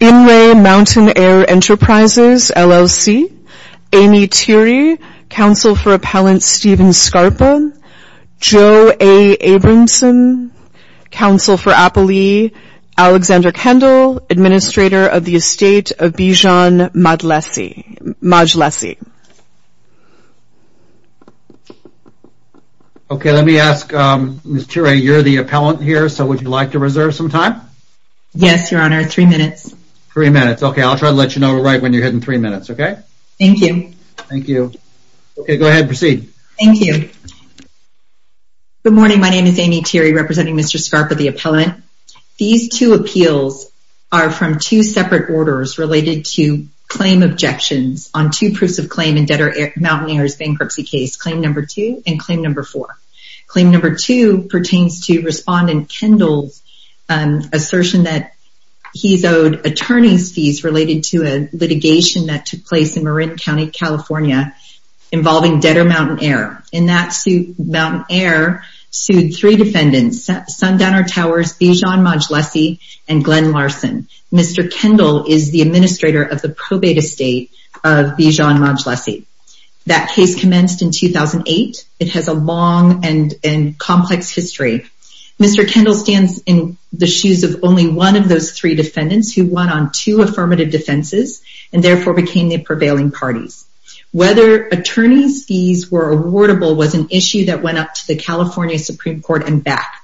Amy Thiry, Counsel for Appellant Stephen Scarpa Joe A. Abramson, Counsel for Appellee Alexander Kendall Administrator of the Estate of Bijan Majlesi Okay, let me ask Ms. Thiry, you're the appellant here, so would you like to reserve some time? Yes, Your Honor. Three minutes. Three minutes. Okay, I'll try to let you know we're right when you're ahead in three minutes, okay? Thank you. Thank you. Okay, go ahead, proceed. Thank you. Good morning, my name is Amy Thiry, representing Mr. Scarpa, the appellant. These two appeals are from two separate orders related to claim objections on two proofs of claim in debtor Mountain Air's bankruptcy case, claim number two and claim number four. Claim number two pertains to respondent Kendall's assertion that he's owed attorney's fees related to a litigation that took place in Marin County, California involving debtor Mountain Air. In that suit, Mountain Air sued three defendants, Sundowner Towers, Bijan Majlesi, and Glenn Larson. Mr. Kendall is the administrator of the probate estate of Bijan Majlesi. That case commenced in 2008. It has a long and complex history. Mr. Kendall stands in the shoes of only one of those three defendants who won on two affirmative defenses and therefore became the prevailing parties. Whether attorney's fees were awardable was an issue that went up to the California Supreme Court and back.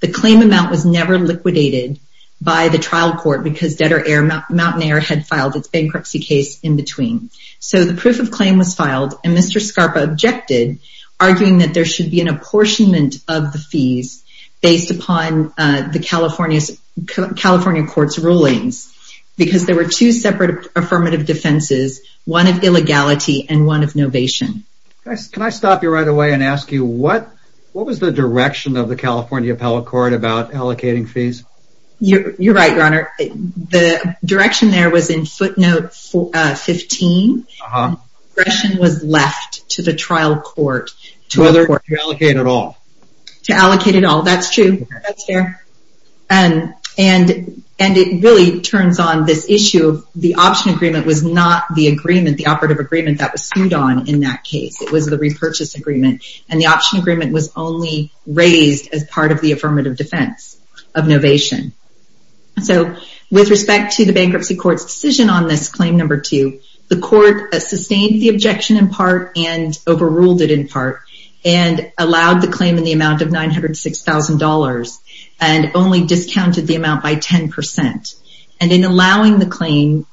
The claim amount was never liquidated by the trial court because debtor Mountain Air had filed its bankruptcy case in between. So the proof of claim was filed, and Mr. Scarpa objected, arguing that there should be an apportionment of the fees based upon the California Court's rulings because there were two separate affirmative defenses, one of illegality and one of novation. Can I stop you right away and ask you, what was the direction of the California Appellate Court about allocating fees? You're right, Your Honor. The direction there was in footnote 15. The discretion was left to the trial court. To allocate it all. That's true. And it really turns on this issue of the option agreement was not the agreement, the operative agreement that was sued on in that case. It was the repurchase agreement, and the option agreement was only raised as part of the affirmative defense of novation. So with respect to the bankruptcy court's decision on this claim number two, the court sustained the objection in part and overruled it in part, and allowed the claim in the amount of $906,000, and only discounted the amount by 10%. And in allowing the claim,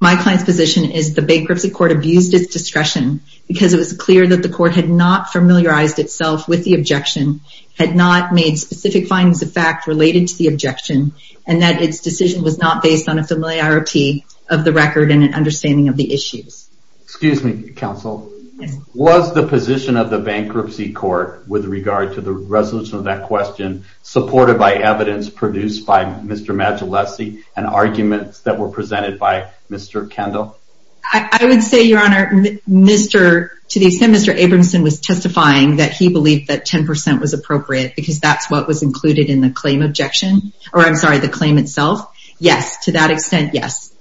my client's position is the bankruptcy court abused its discretion because it was clear that the court had not familiarized itself with the objection, had not made specific findings of fact related to the objection, and that its decision was not based on a familiarity of the record and an understanding of the claim. So was the position of the bankruptcy court with regard to the resolution of that question supported by evidence produced by Mr. Magillese and arguments that were presented by Mr. Kendall? I would say, your honor, Mr. to the extent Mr. Abramson was testifying that he believed that 10% was appropriate because that's what was included in the claim objection, or I'm sorry, the claim itself, yes. To that extent, yes.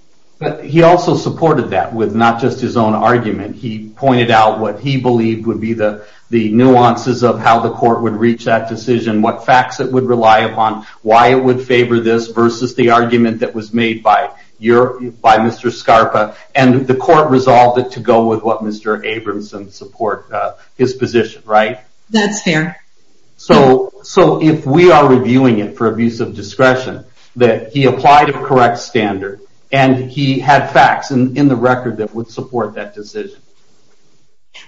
He also supported that with not just his own argument. He pointed out what he believed would be the nuances of how the court would reach that decision, what facts it would rely upon, why it would favor this versus the argument that was made by Mr. Scarpa, and the court resolved it to go with what Mr. Abramson supports, his position, right? That's fair. So if we are reviewing it for abuse of discretion, that he applied a correct standard and he had facts in the record that would support that decision.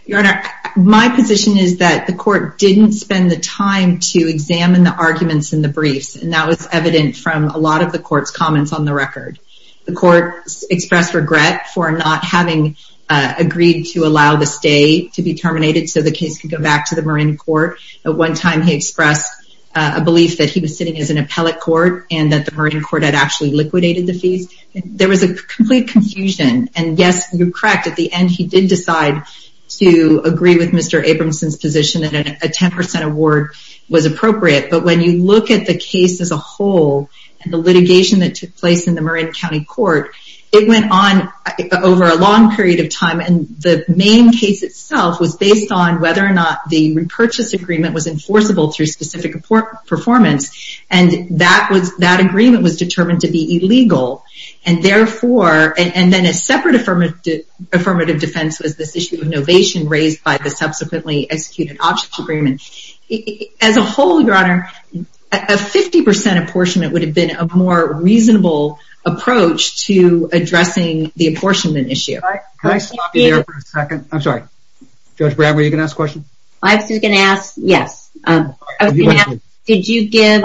Your honor, my position is that the court didn't spend the time to examine the arguments in the briefs, and that was evident from a lot of the court's comments on the record. The court expressed regret for not having agreed to allow the stay to be terminated so the case could go back to the marine court. At one time, he expressed a belief that he was sitting as an appellate court and that the marine court had actually liquidated the fees. There was a complete confusion, and yes, you're correct. At the end, he did decide to agree with Mr. Abramson's position that a 10% award was appropriate, but when you look at the case as a whole, and the litigation that took place in the marine county court, it went on over a long period of time, and the main case itself was based on whether or not the repurchase agreement was enforceable through specific performance, and that agreement was determined to be illegal, and therefore, and then a separate affirmative defense was this issue of novation raised by the subsequently executed options agreement. As a whole, your honor, a 50% apportionment would have been a more reasonable approach to addressing the apportionment issue. Judge Brown, were you going to ask a question? I was going to ask, yes. I was going to ask, did you give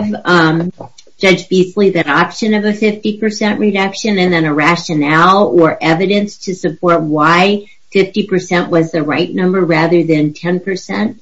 Judge Beasley that option of a 50% reduction, and then a rationale or evidence to support why 50% was the right number rather than 10%?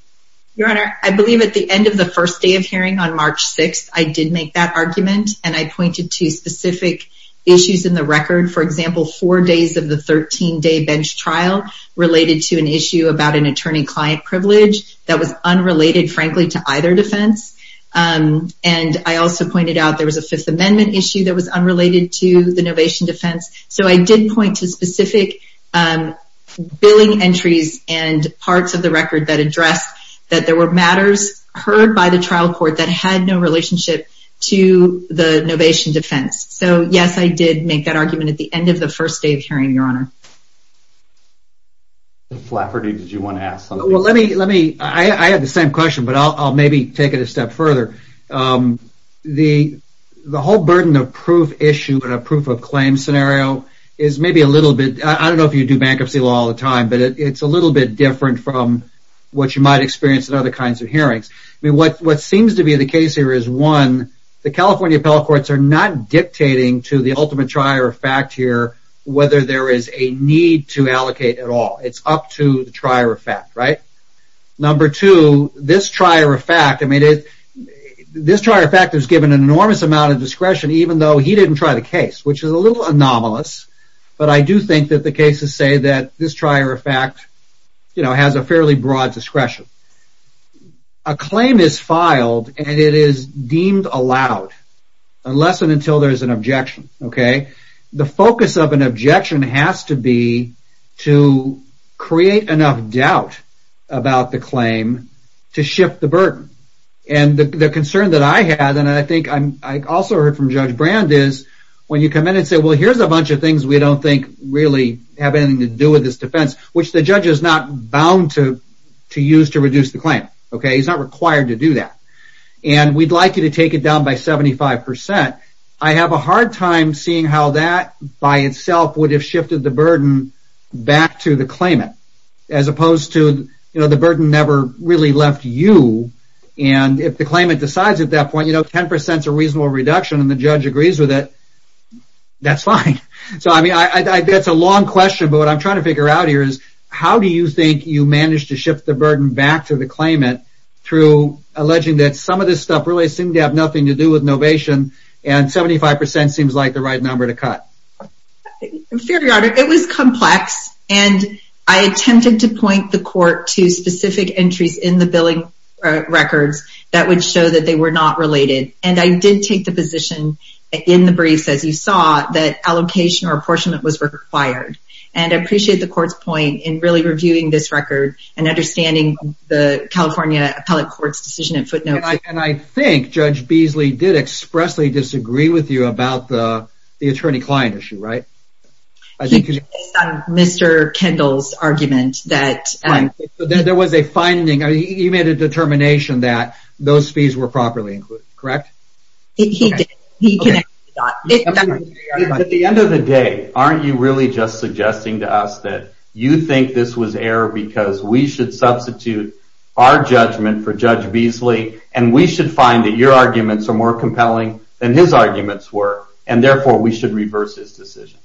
Your honor, I believe at the end of the first day of hearing on March 6th, I did make that argument, and I pointed to specific issues in the record. For example, four days of the 13 day bench trial related to an issue about an attorney-client privilege that was unrelated, frankly, to either defense, and I also pointed out there was a Fifth Amendment issue that was unrelated to the novation defense, so I did point to specific billing entries and parts of the record that addressed that there were matters heard by the trial court that had no relationship to the novation defense. So, yes, I did make that argument at the end of the first day of hearing, your honor. Flafferty, did you want to ask something? I have the same question, but I'll maybe take it a step further. The whole burden of proof-issue and a proof-of-claim scenario is maybe a little bit, I don't know if you do bankruptcy law all the time, but it's a little bit different from what you might experience in other kinds of hearings. What seems to be the case here is, one, the California appellate courts are not dictating to the ultimate trier of fact here whether there is a need to allocate at all. It's up to the trier of fact, right? Number two, this trier of fact has given an enormous amount of discretion even though he didn't try the case, which is a little anomalous, but I do think that the cases say that this trier of fact has a fairly broad discretion. A claim is filed and it is deemed allowed, unless and until there is an objection. The focus of an objection has to be to create enough doubt about the claim to shift the burden. The concern that I had, and I think I also heard from Judge Brand, is when you come in and say, well, here's a bunch of things we don't think really have anything to do with this defense, which the judge is not bound to use to reduce the claim. He's not required to do that. We'd like you to take it down by 75%. I have a hard time seeing how that by itself would have shifted the burden back to the claimant, as opposed to the burden never really left you. If the claimant decides at that point, 10% is a reasonable reduction and the judge agrees with it, that's fine. That's a long question, but what I'm trying to figure out here is how do you think you managed to shift the burden back to the claimant through alleging that some of this stuff really seemed to have nothing to do with novation, and 75% seems like the right number to cut? Fair Your Honor, it was complex, and I attempted to point the court to specific entries in the billing records that would show that they were not related, and I did take the position in the briefs, as you saw, that allocation or apportionment was required, and I appreciate the court's point in really reviewing this record and understanding the California Appellate Court's decision at footnote. And I think Judge Beasley did expressly disagree with you about the attorney-client issue, right? He based that on Mr. Kendall's argument. He made a determination that those fees were properly included, correct? He did. At the end of the day, aren't you really just suggesting to us that you think this was error because we should substitute our and we should find that your arguments are more compelling than his arguments were and therefore we should reverse his decision?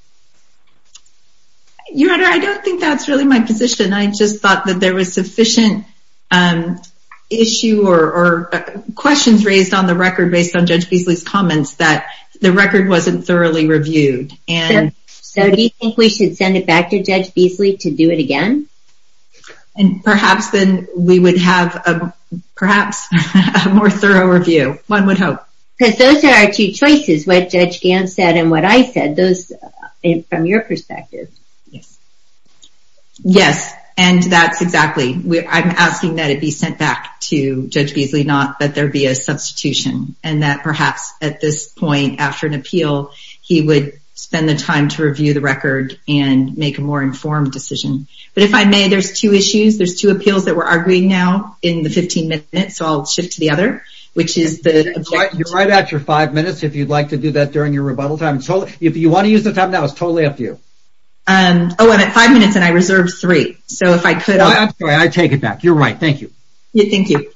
Your Honor, I don't think that's really my position. I just thought that there was sufficient issue or questions raised on the record based on Judge Beasley's comments that the record wasn't thoroughly reviewed. So do you think we should send it back to Judge Beasley to do it again? Perhaps then we would have perhaps a more thorough review. One would hope. Because those are our two choices, what Judge Gant said and what I said. From your perspective. Yes. Yes, and that's exactly. I'm asking that it be sent back to Judge Beasley, not that there be a substitution. And that perhaps at this point after an appeal, he would spend the time to review the record and make a more informed decision. But if I may, there's two issues. There's two appeals that we're arguing now in the 15 minutes, so I'll shift to the other. You're right at your five minutes if you'd like to do that during your rebuttal time. If you want to use the time now, it's totally up to you. Oh, I'm at five minutes and I reserved three. I take it back. You're right. Thank you. Thank you.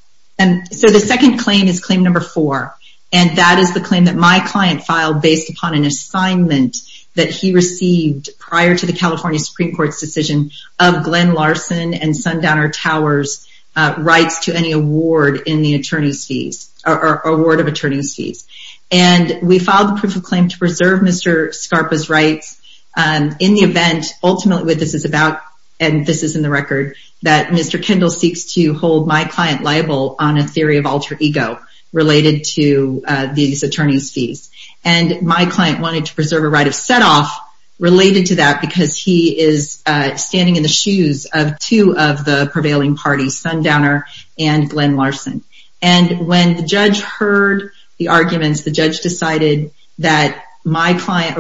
So the second claim is claim number four. And that is the claim that my client filed based upon an assignment that he received prior to the California Supreme Court's decision of Glenn Larson and Sundowner Towers rights to any award in the attorney's fees or award of attorney's fees. And we filed the proof of claim to preserve Mr. Scarpa's rights in the event ultimately what this is about, and this is in the record, that Mr. Kendall seeks to hold my client liable on a theory of alter ego related to these attorney's fees. And my client wanted to preserve a right of set off related to that because he is standing in the shoes of two of the prevailing parties, Sundowner and Glenn Larson. And when the judge heard the arguments, the judge decided that my client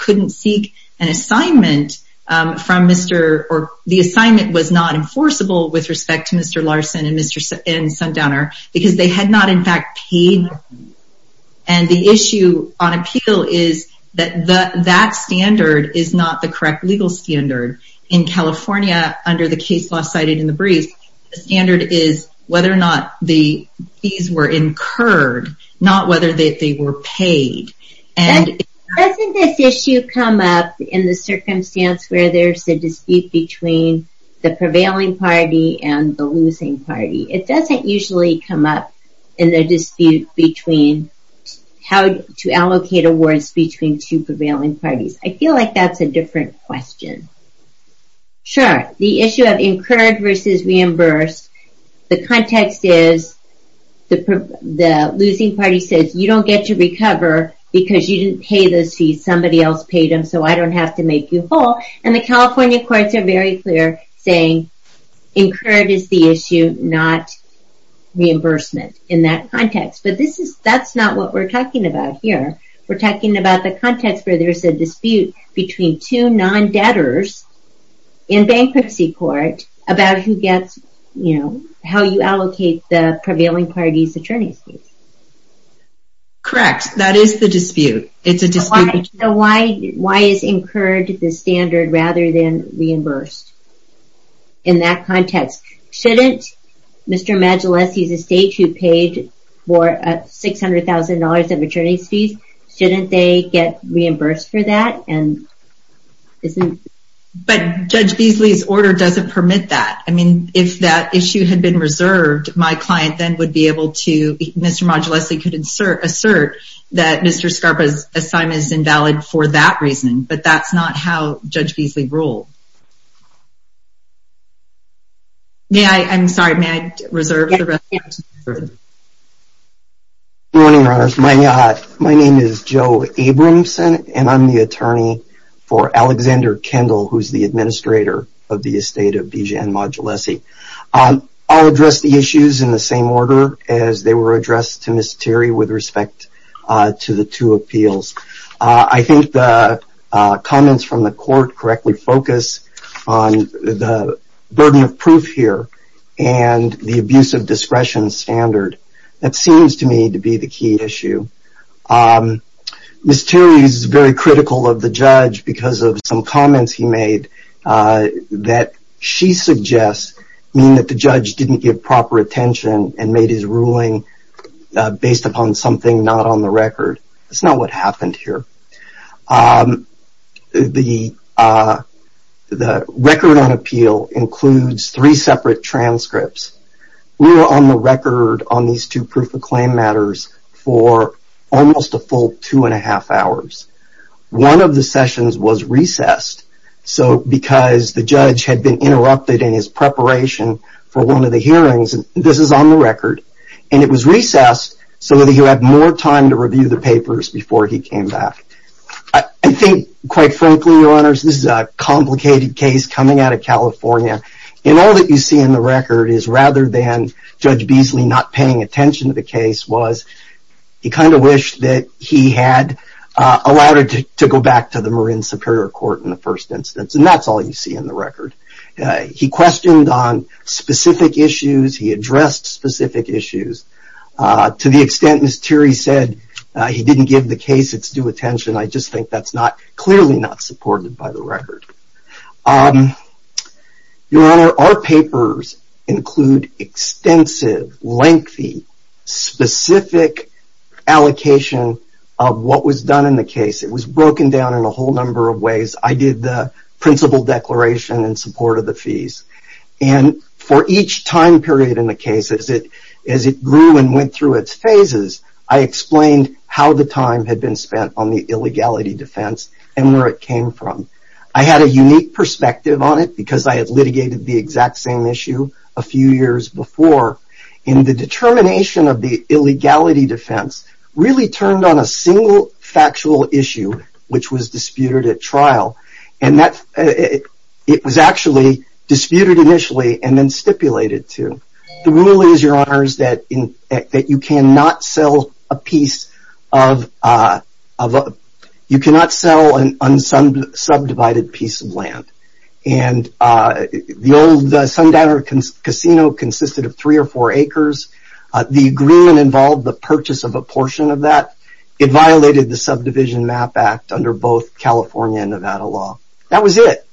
couldn't seek an assignment from Mr. or the assignment was not enforceable with respect to Mr. Larson and Sundowner because they had not in fact paid. And the issue on that standard is not the correct legal standard. In California under the case law cited in the brief, the standard is whether or not the fees were incurred, not whether they were paid. Doesn't this issue come up in the circumstance where there is a dispute between the prevailing party and the losing party? It doesn't usually come up in the dispute between how to allocate awards between two prevailing parties. I feel like that's a different question. Sure, the issue of incurred versus reimbursed the context is the losing party says you don't get to recover because you didn't pay those fees somebody else paid them so I don't have to make you whole. And the California courts are very clear saying incurred is the issue, not reimbursement in that context. But that's not what we're talking about here. We're talking about the context where there's a dispute between two non-debtors in bankruptcy court about how you allocate the prevailing party's attorney fees. Correct, that is the dispute. Why is incurred the standard rather than reimbursed in that $600,000 of attorney's fees? Shouldn't they get reimbursed for that? But Judge Beasley's order doesn't permit that. I mean, if that issue had been reserved, my client then would be able to, Mr. Modulesi could assert that Mr. Scarpa's assignment is invalid for that reason. But that's not how Judge Beasley ruled. May I, I'm sorry, may I reserve the rest of my time? Good morning, Your Honors. My name is Joe Abramson and I'm the attorney for Alexander Kendall, who's the administrator of the estate of B. Jan Modulesi. I'll address the issues in the same order as they were addressed to Ms. Terry with respect to the two appeals. I think the comments from the court correctly focus on the burden of proof here and the abuse of discretion standard. That seems to me to be the key issue. Ms. Terry is very critical of the judge because of some comments he made that she suggests mean that the judge didn't give proper attention and made his ruling based upon something not on the record. That's not what happened here. The record on appeal includes three separate transcripts. We were on the record on these two proof of claim matters for almost a full two and a half hours. One of the sessions was recessed because the judge had been interrupted in his preparation for one of the hearings. This is on the record. And it was recessed so that he would have more time to review the papers This is a complicated case coming out of California. And all that you see in the record is rather than Judge Beasley not paying attention to the case was he kind of wished that he had allowed it to go back to the Marin Superior Court in the first instance. And that's all you see in the record. He questioned on specific issues. He addressed specific issues. To the extent Ms. Terry said he didn't give the case its due attention, I just think that's clearly not supported by the record. Your Honor, our papers include extensive lengthy specific allocation of what was done in the case. It was broken down in a whole number of ways. I did the principal declaration in support of the fees. And for each time period in the case, as it grew and went through its phases, I explained how the time had been spent on the illegality defense and where it came from. I had a unique perspective on it because I had litigated the exact same issue a few years before. And the determination of the illegality defense really turned on a single factual issue which was disputed at trial. It was actually disputed initially and then stipulated to. The rule is, Your Honor, that you cannot sell a piece of subdivided piece of land. The old Sundowner Casino consisted of three or four acres. The agreement involved the purchase of a portion of that. It violated the Subdivision Map Act under both California and Nevada law. That was it.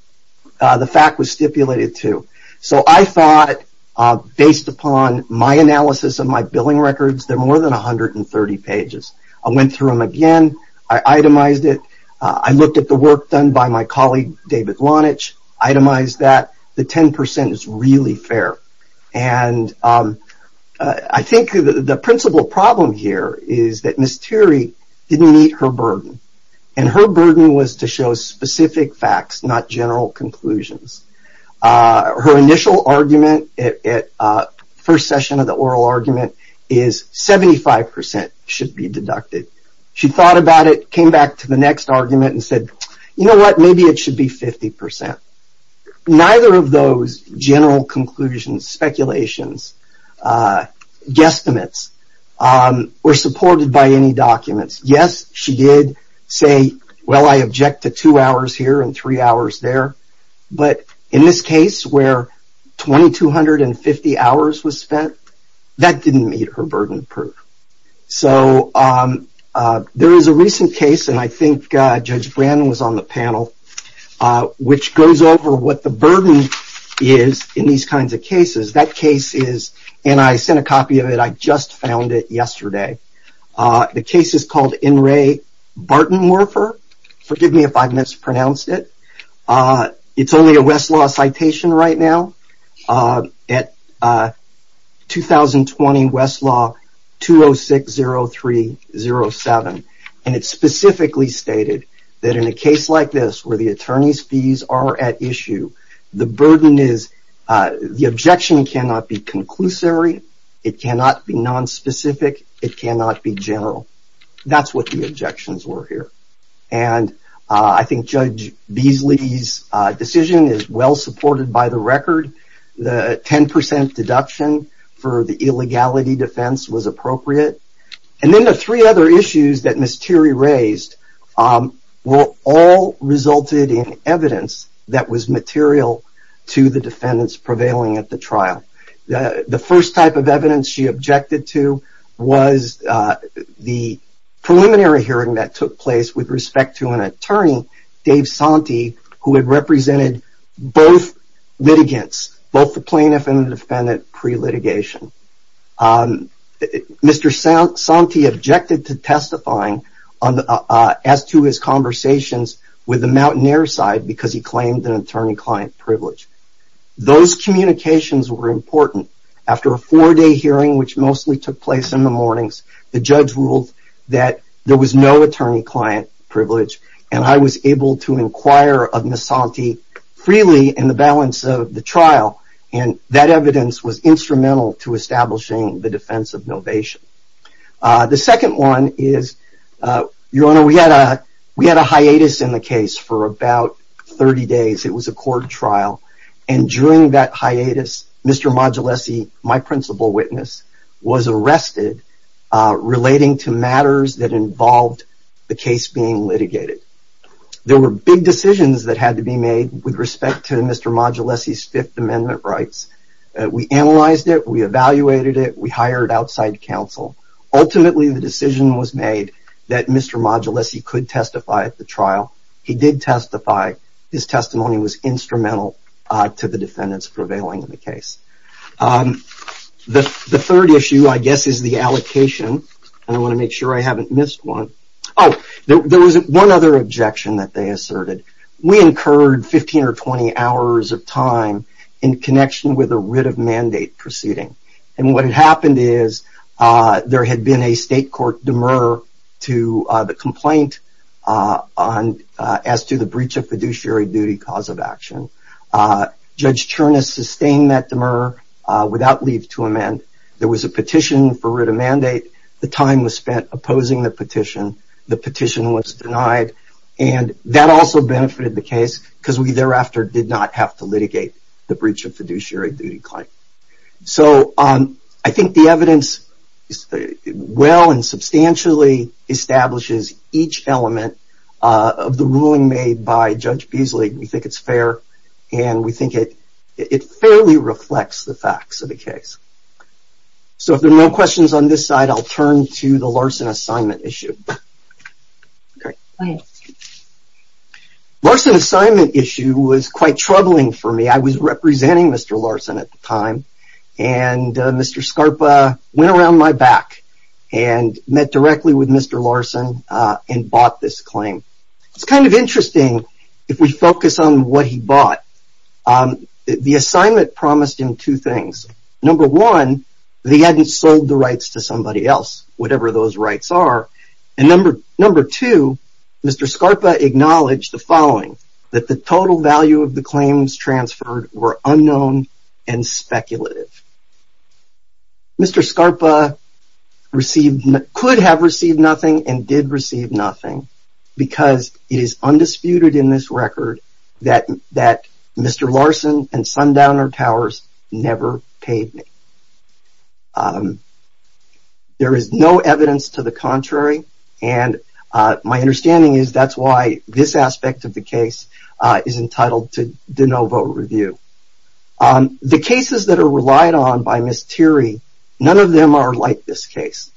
The fact was stipulated to. So I thought, based upon my analysis of my 30 pages, I went through them again. I itemized it. I looked at the work done by my colleague, David Lonitch. I itemized that. The 10% is really fair. I think the principal problem here is that Ms. Teary didn't meet her burden. And her burden was to show specific facts, not general conclusions. Her initial argument at first session of the oral argument is 75% should be deducted. She thought about it, came back to the next argument, and said, You know what? Maybe it should be 50%. Neither of those general conclusions, speculations, guesstimates were supported by any documents. Yes, she did say, Well, I object to two hours here and three hours there. But in this case where 2,250 hours was spent, that didn't meet her burden proof. So there is a recent case, and I think Judge Brandon was on the panel, which goes over what the burden is in these kinds of cases. That case is and I sent a copy of it. I just found it yesterday. The case is called In Re Bartonwerfer. Forgive me if I mispronounced it. It's only a Westlaw citation right now. At 2020 Westlaw 2060307 and it specifically stated that in a case like this where the attorney's fees are at issue, the burden is the objection cannot be conclusory. It cannot be nonspecific. It cannot be general. That's what the objections were here. And I think Judge Beasley's decision is well supported by the record. The 10% deduction for the illegality defense was appropriate. And then the three other issues that Ms. Thierry raised all resulted in evidence that was material to the defendants prevailing at the trial. The first type of evidence she objected to was the preliminary hearing that took place with respect to an attorney named Dave Sante who had represented both litigants, both the plaintiff and the defendant pre-litigation. Mr. Sante objected to testifying as to his conversations with the Mountaineer side because he claimed an attorney-client privilege. Those communications were important. After a four-day hearing which mostly took place in the mornings, the judge ruled that there was no attorney- client who was able to inquire of Ms. Sante freely in the balance of the trial. And that evidence was instrumental to establishing the defense of novation. The second one is Your Honor, we had a hiatus in the case for about 30 days. It was a court trial. And during that hiatus, Mr. Modulesi, my principal witness, was arrested relating to matters that involved the case being litigated. There were big decisions that had to be made with respect to Mr. Modulesi's Fifth Amendment rights. We analyzed it. We evaluated it. We hired outside counsel. Ultimately, the decision was made that Mr. Modulesi could testify at the trial. He did testify. His testimony was instrumental to the defendants prevailing in the case. The third issue, I guess, is the allocation. I want to make sure I haven't missed one. There was one other objection that they asserted. We incurred 15 or 20 hours of time in connection with a writ of mandate proceeding. And what had happened is there had been a state court demur to the complaint as to the breach of fiduciary duty cause of action. Judge Chernus sustained that demur without leave to amend. There was a petition for writ of mandate. The time was spent opposing the petition. The petition was denied. That also benefited the case because we thereafter did not have to litigate the breach of fiduciary duty claim. I think the evidence well and substantially establishes each element of the ruling made by Judge Beasley. We think it's fair, and we think it fairly reflects the facts of the case. If there are no questions on this side, I'll turn to the Larson assignment issue. Larson assignment issue was quite troubling for me. I was representing Mr. Larson at the time. Mr. Scarpa went around my back and met directly with Mr. Larson and bought this claim. It's kind of interesting if we focus on what he bought. The assignment promised him two things. Number one, that he hadn't sold the rights to somebody else, whatever those rights are. Number two, Mr. Scarpa acknowledged the following, that the total value of the claims transferred were unknown and speculative. Mr. Scarpa could have received nothing and did receive nothing because it is undisputed in this Mr. Larson and Sundowner Towers never paid me. There is no evidence to the contrary, and my understanding is that's why this aspect of the case is entitled to de novo review. The cases that are relied on by Ms. Teary, none of them are like this case.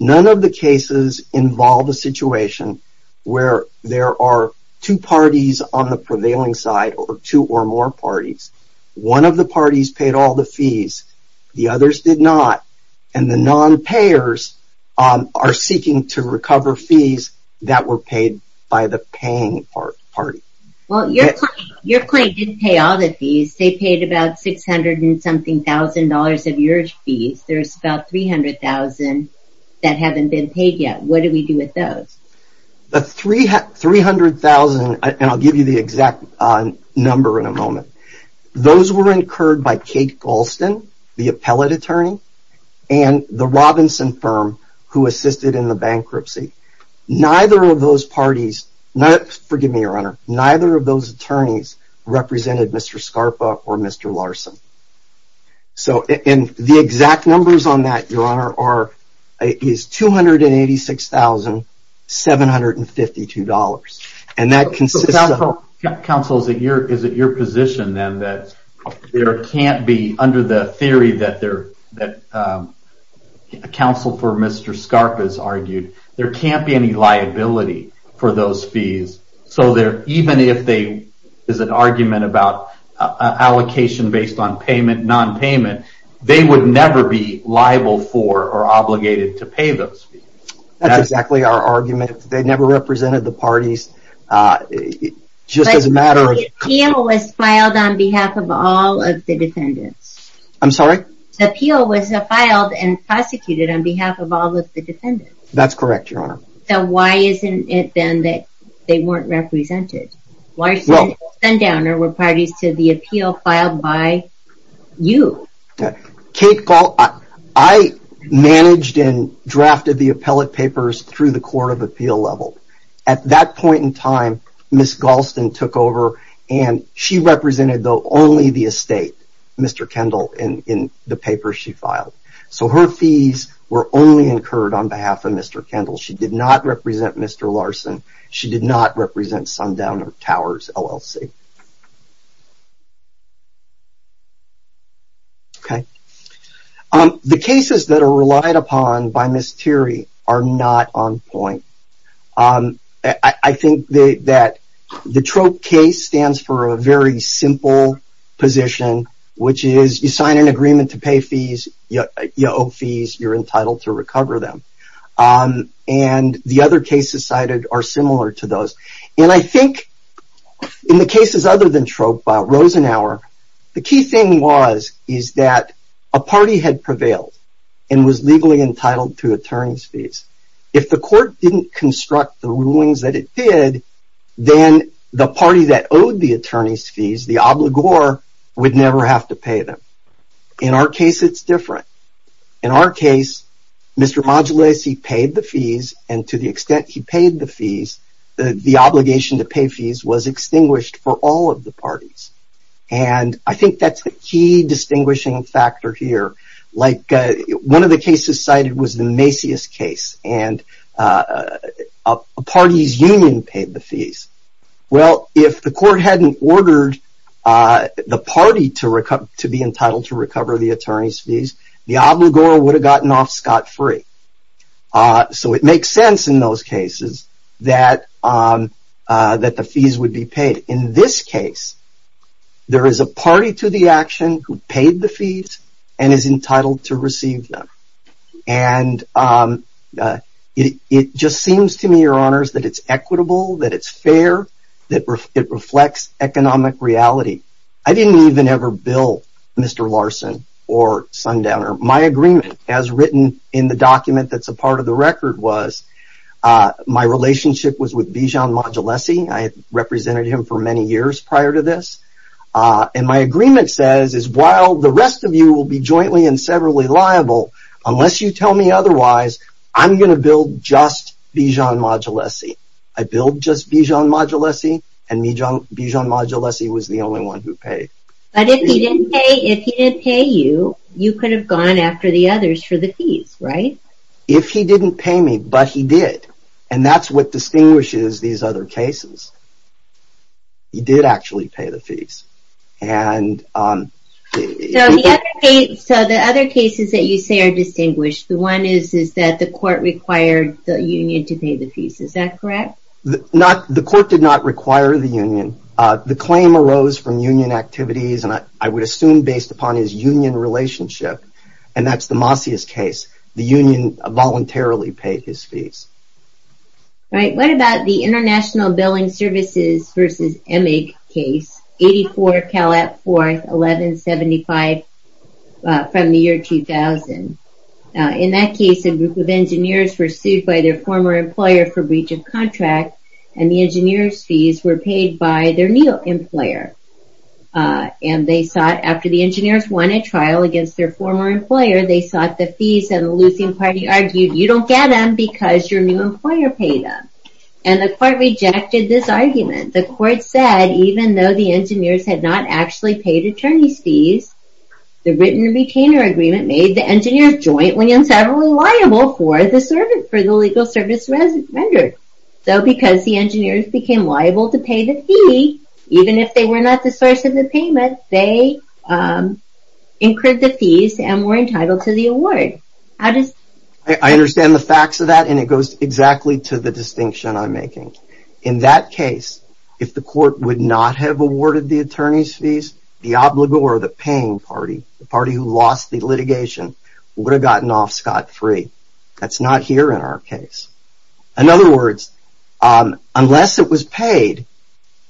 None of the cases involve a situation where there are two parties on the prevailing side or two or more parties. One of the parties paid all the fees. The others did not. The non-payers are seeking to recover fees that were paid by the paying party. Your claim didn't pay all the fees. They paid about $600,000 of your fees. There's about $300,000 that haven't been paid yet. What do we do with those? The $300,000, and I'll give you the exact number in a moment, those were incurred by Kate Galston, the appellate attorney, and the Robinson firm who assisted in the bankruptcy. Neither of those attorneys represented Mr. Scarpa or Mr. Larson. The exact numbers on that is $286,752. That consists of... Counsel, is it your position then that there can't be under the theory that counsel for Mr. Scarpa has argued, there can't be any liability for those fees. Even if there is an argument about allocation based on payment, non-payment, they would never be liable for or obligated to pay those fees. That's exactly our argument. They never represented the parties. Just as a matter of... The appeal was filed on behalf of all of the defendants. I'm sorry? The appeal was filed and prosecuted on behalf of all of the defendants. That's correct, Your Honor. So why isn't it then that they weren't represented? Larson and Sundowner were parties to the appeal filed by you. I managed and drafted the appellate papers through the court of appeal level. At that point in time, Ms. Galston took over and she represented only the estate, Mr. Kendall, in the papers she filed. So her fees were only incurred on behalf of Mr. Kendall. She did not represent Mr. Larson. She did not represent Sundowner Towers, LLC. Okay. The cases that are relied upon by Ms. Thierry are not on point. I think that the TROPE case stands for a very simple position, which is you sign an agreement to pay fees, you owe fees, you're entitled to recover them. And the other cases cited are similar to those. And I think in the cases other than TROPE, Rosenauer, the key thing was that a party had prevailed and was legally entitled to attorney's fees. If the court didn't construct the rulings that it did, then the party that owed the attorney's fees, the obligor, would never have to pay them. In our case, it's different. In our case, Mr. Modulesi paid the fees, and to the extent he paid the fees, the obligation to pay fees was extinguished for all of the parties. And I think that's the key distinguishing factor here. One of the cases cited was the Macias case, and a party's union paid the fees. Well, if the court hadn't ordered the party to be entitled to recover the attorney's fees, the obligor would have gotten off scot-free. So it makes sense in those cases that the fees would be paid. In this case, there is a party to the action who paid the fees and is entitled to receive them. It just seems to me, Your Honors, that it's equitable, that it's fair, that it reflects economic reality. I didn't even ever bill Mr. Larson or Sundowner. My agreement as written in the document that's a part of the record was my relationship was with Bijan Modulesi. I had represented him for many years prior to this. And my agreement says while the rest of you will be jointly and severally liable, unless you tell me otherwise, I'm going to bill just Bijan Modulesi. I billed just Bijan Modulesi, and Bijan Modulesi was the only one who paid. But if he didn't pay you, you could have gone after the others for the fees, right? If he didn't pay me, but he did. And that's what distinguishes these other cases. He did actually pay the fees. So the other cases that you say are distinguished, the one is that the court required the union to pay the fees. Is that correct? The court did not require the union. The claim arose from union activities and I would assume based upon his union relationship. And that's the Masias case. The union voluntarily paid his fees. Right. What about the International Billing Services v. Emig case, 84 Calat 4th, 1175 from the year 2000? In that case, a group of engineers were sued by their former employer for breach of contract, and the engineers' fees were paid by their new employer. And they sought, after the engineers won a trial against their former employer, they sought the fees and the losing party argued, you don't get them because your new employer paid them. And the court rejected this argument. The court said, even though the engineers had not actually paid attorney's fees, the written retainer agreement made the engineers jointly and severally liable for the legal service rendered. So because the engineers became liable to pay the fee, even if they were not the source of the payment, they incurred the fees and were entitled to the award. I understand the facts of that and it goes exactly to the distinction I'm making. In that case, if the court would not have awarded the attorney's fees, the paying party, the party who lost the litigation, would have gotten off scot-free. That's not here in our case. In other words, unless it was paid,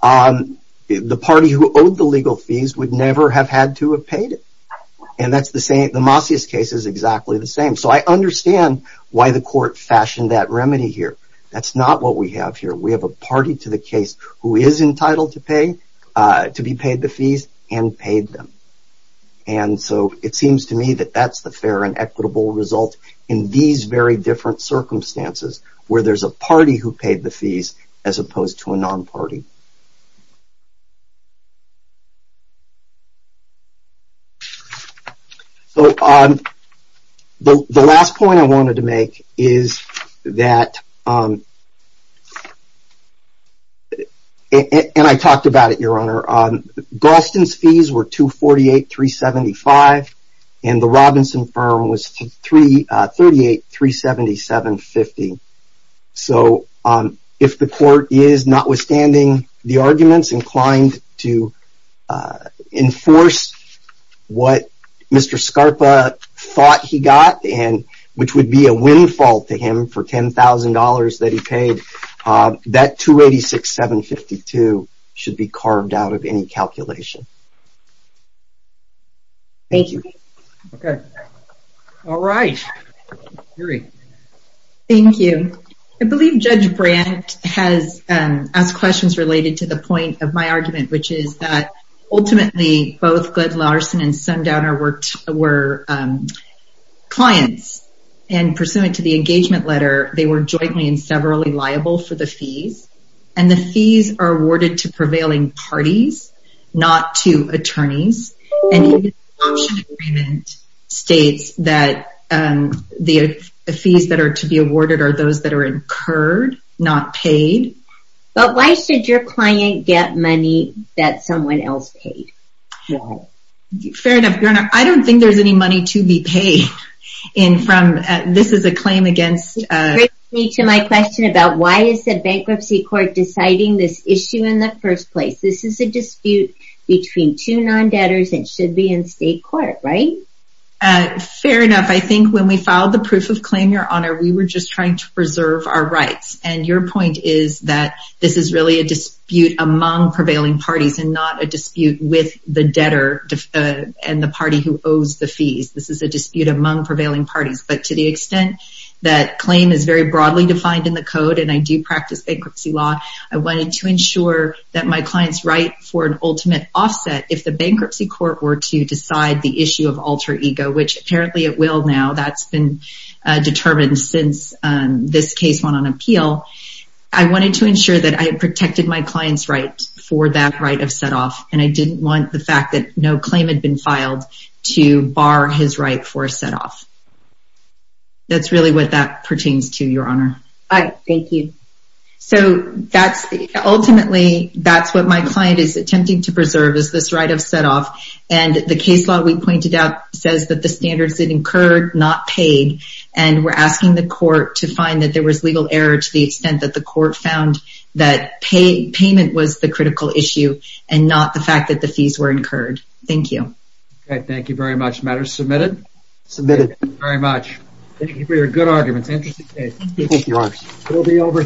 the party who owed the legal fees would never have had to have paid it. And the Masias case is exactly the same. So I understand why the court fashioned that remedy here. That's not what we have here. We have a party to the case who is entitled to be paid the fees and paid them. And so it seems to me that that's the fair and equitable result in these very different circumstances where there's a party who paid the fees as opposed to a non-party. The last point I wanted to make is that and I talked about it your honor, Galston's fees were $248,375 and the Robinson firm was $338,377.50 So if the court is, notwithstanding the arguments, inclined to enforce what Mr. Scarpa thought he got and which would be a windfall to him for $10,000 that he paid, that $286,752 should be carved out of any calculation. Thank you. All right. Thank you. I believe Judge Brandt has asked questions related to the point of my argument which is that ultimately both Glenn Larson and Sundowner were clients and pursuant to the engagement letter they were jointly and severally liable for the fees and the fees are awarded to prevailing parties, not to attorneys. And the option agreement states that the fees that are to be awarded are those that are incurred, not paid. But why should your client get money that someone else paid? Fair enough, your honor. I don't think there's any money to be paid. This is a claim against... It brings me to my question about why is the bankruptcy court deciding this issue in the first place? This is a debtor's and should be in state court, right? Fair enough. I think when we filed the proof of claim, your honor, we were just trying to preserve our rights. And your point is that this is really a dispute among prevailing parties and not a dispute with the debtor and the party who owes the fees. This is a dispute among prevailing parties. But to the extent that claim is very broadly defined in the code and I do practice bankruptcy law, I wanted to ensure that my client's right for an ultimate offset, if the bankruptcy court were to decide the issue of alter ego, which apparently it will now, that's been determined since this case went on appeal, I wanted to ensure that I protected my client's right for that right of setoff. And I didn't want the fact that no claim had been filed to bar his right for a setoff. That's really what that pertains to, your honor. Thank you. So that's ultimately, that's what my client is attempting to preserve is this right of setoff. And the case law we pointed out says that the standards incurred, not paid. And we're asking the court to find that there was legal error to the extent that the court found that payment was the critical issue and not the fact that the fees were incurred. Thank you. Okay, thank you very much. Matters submitted? Submitted. Thank you very much. Thank you for your good arguments. Interesting case. Thank you.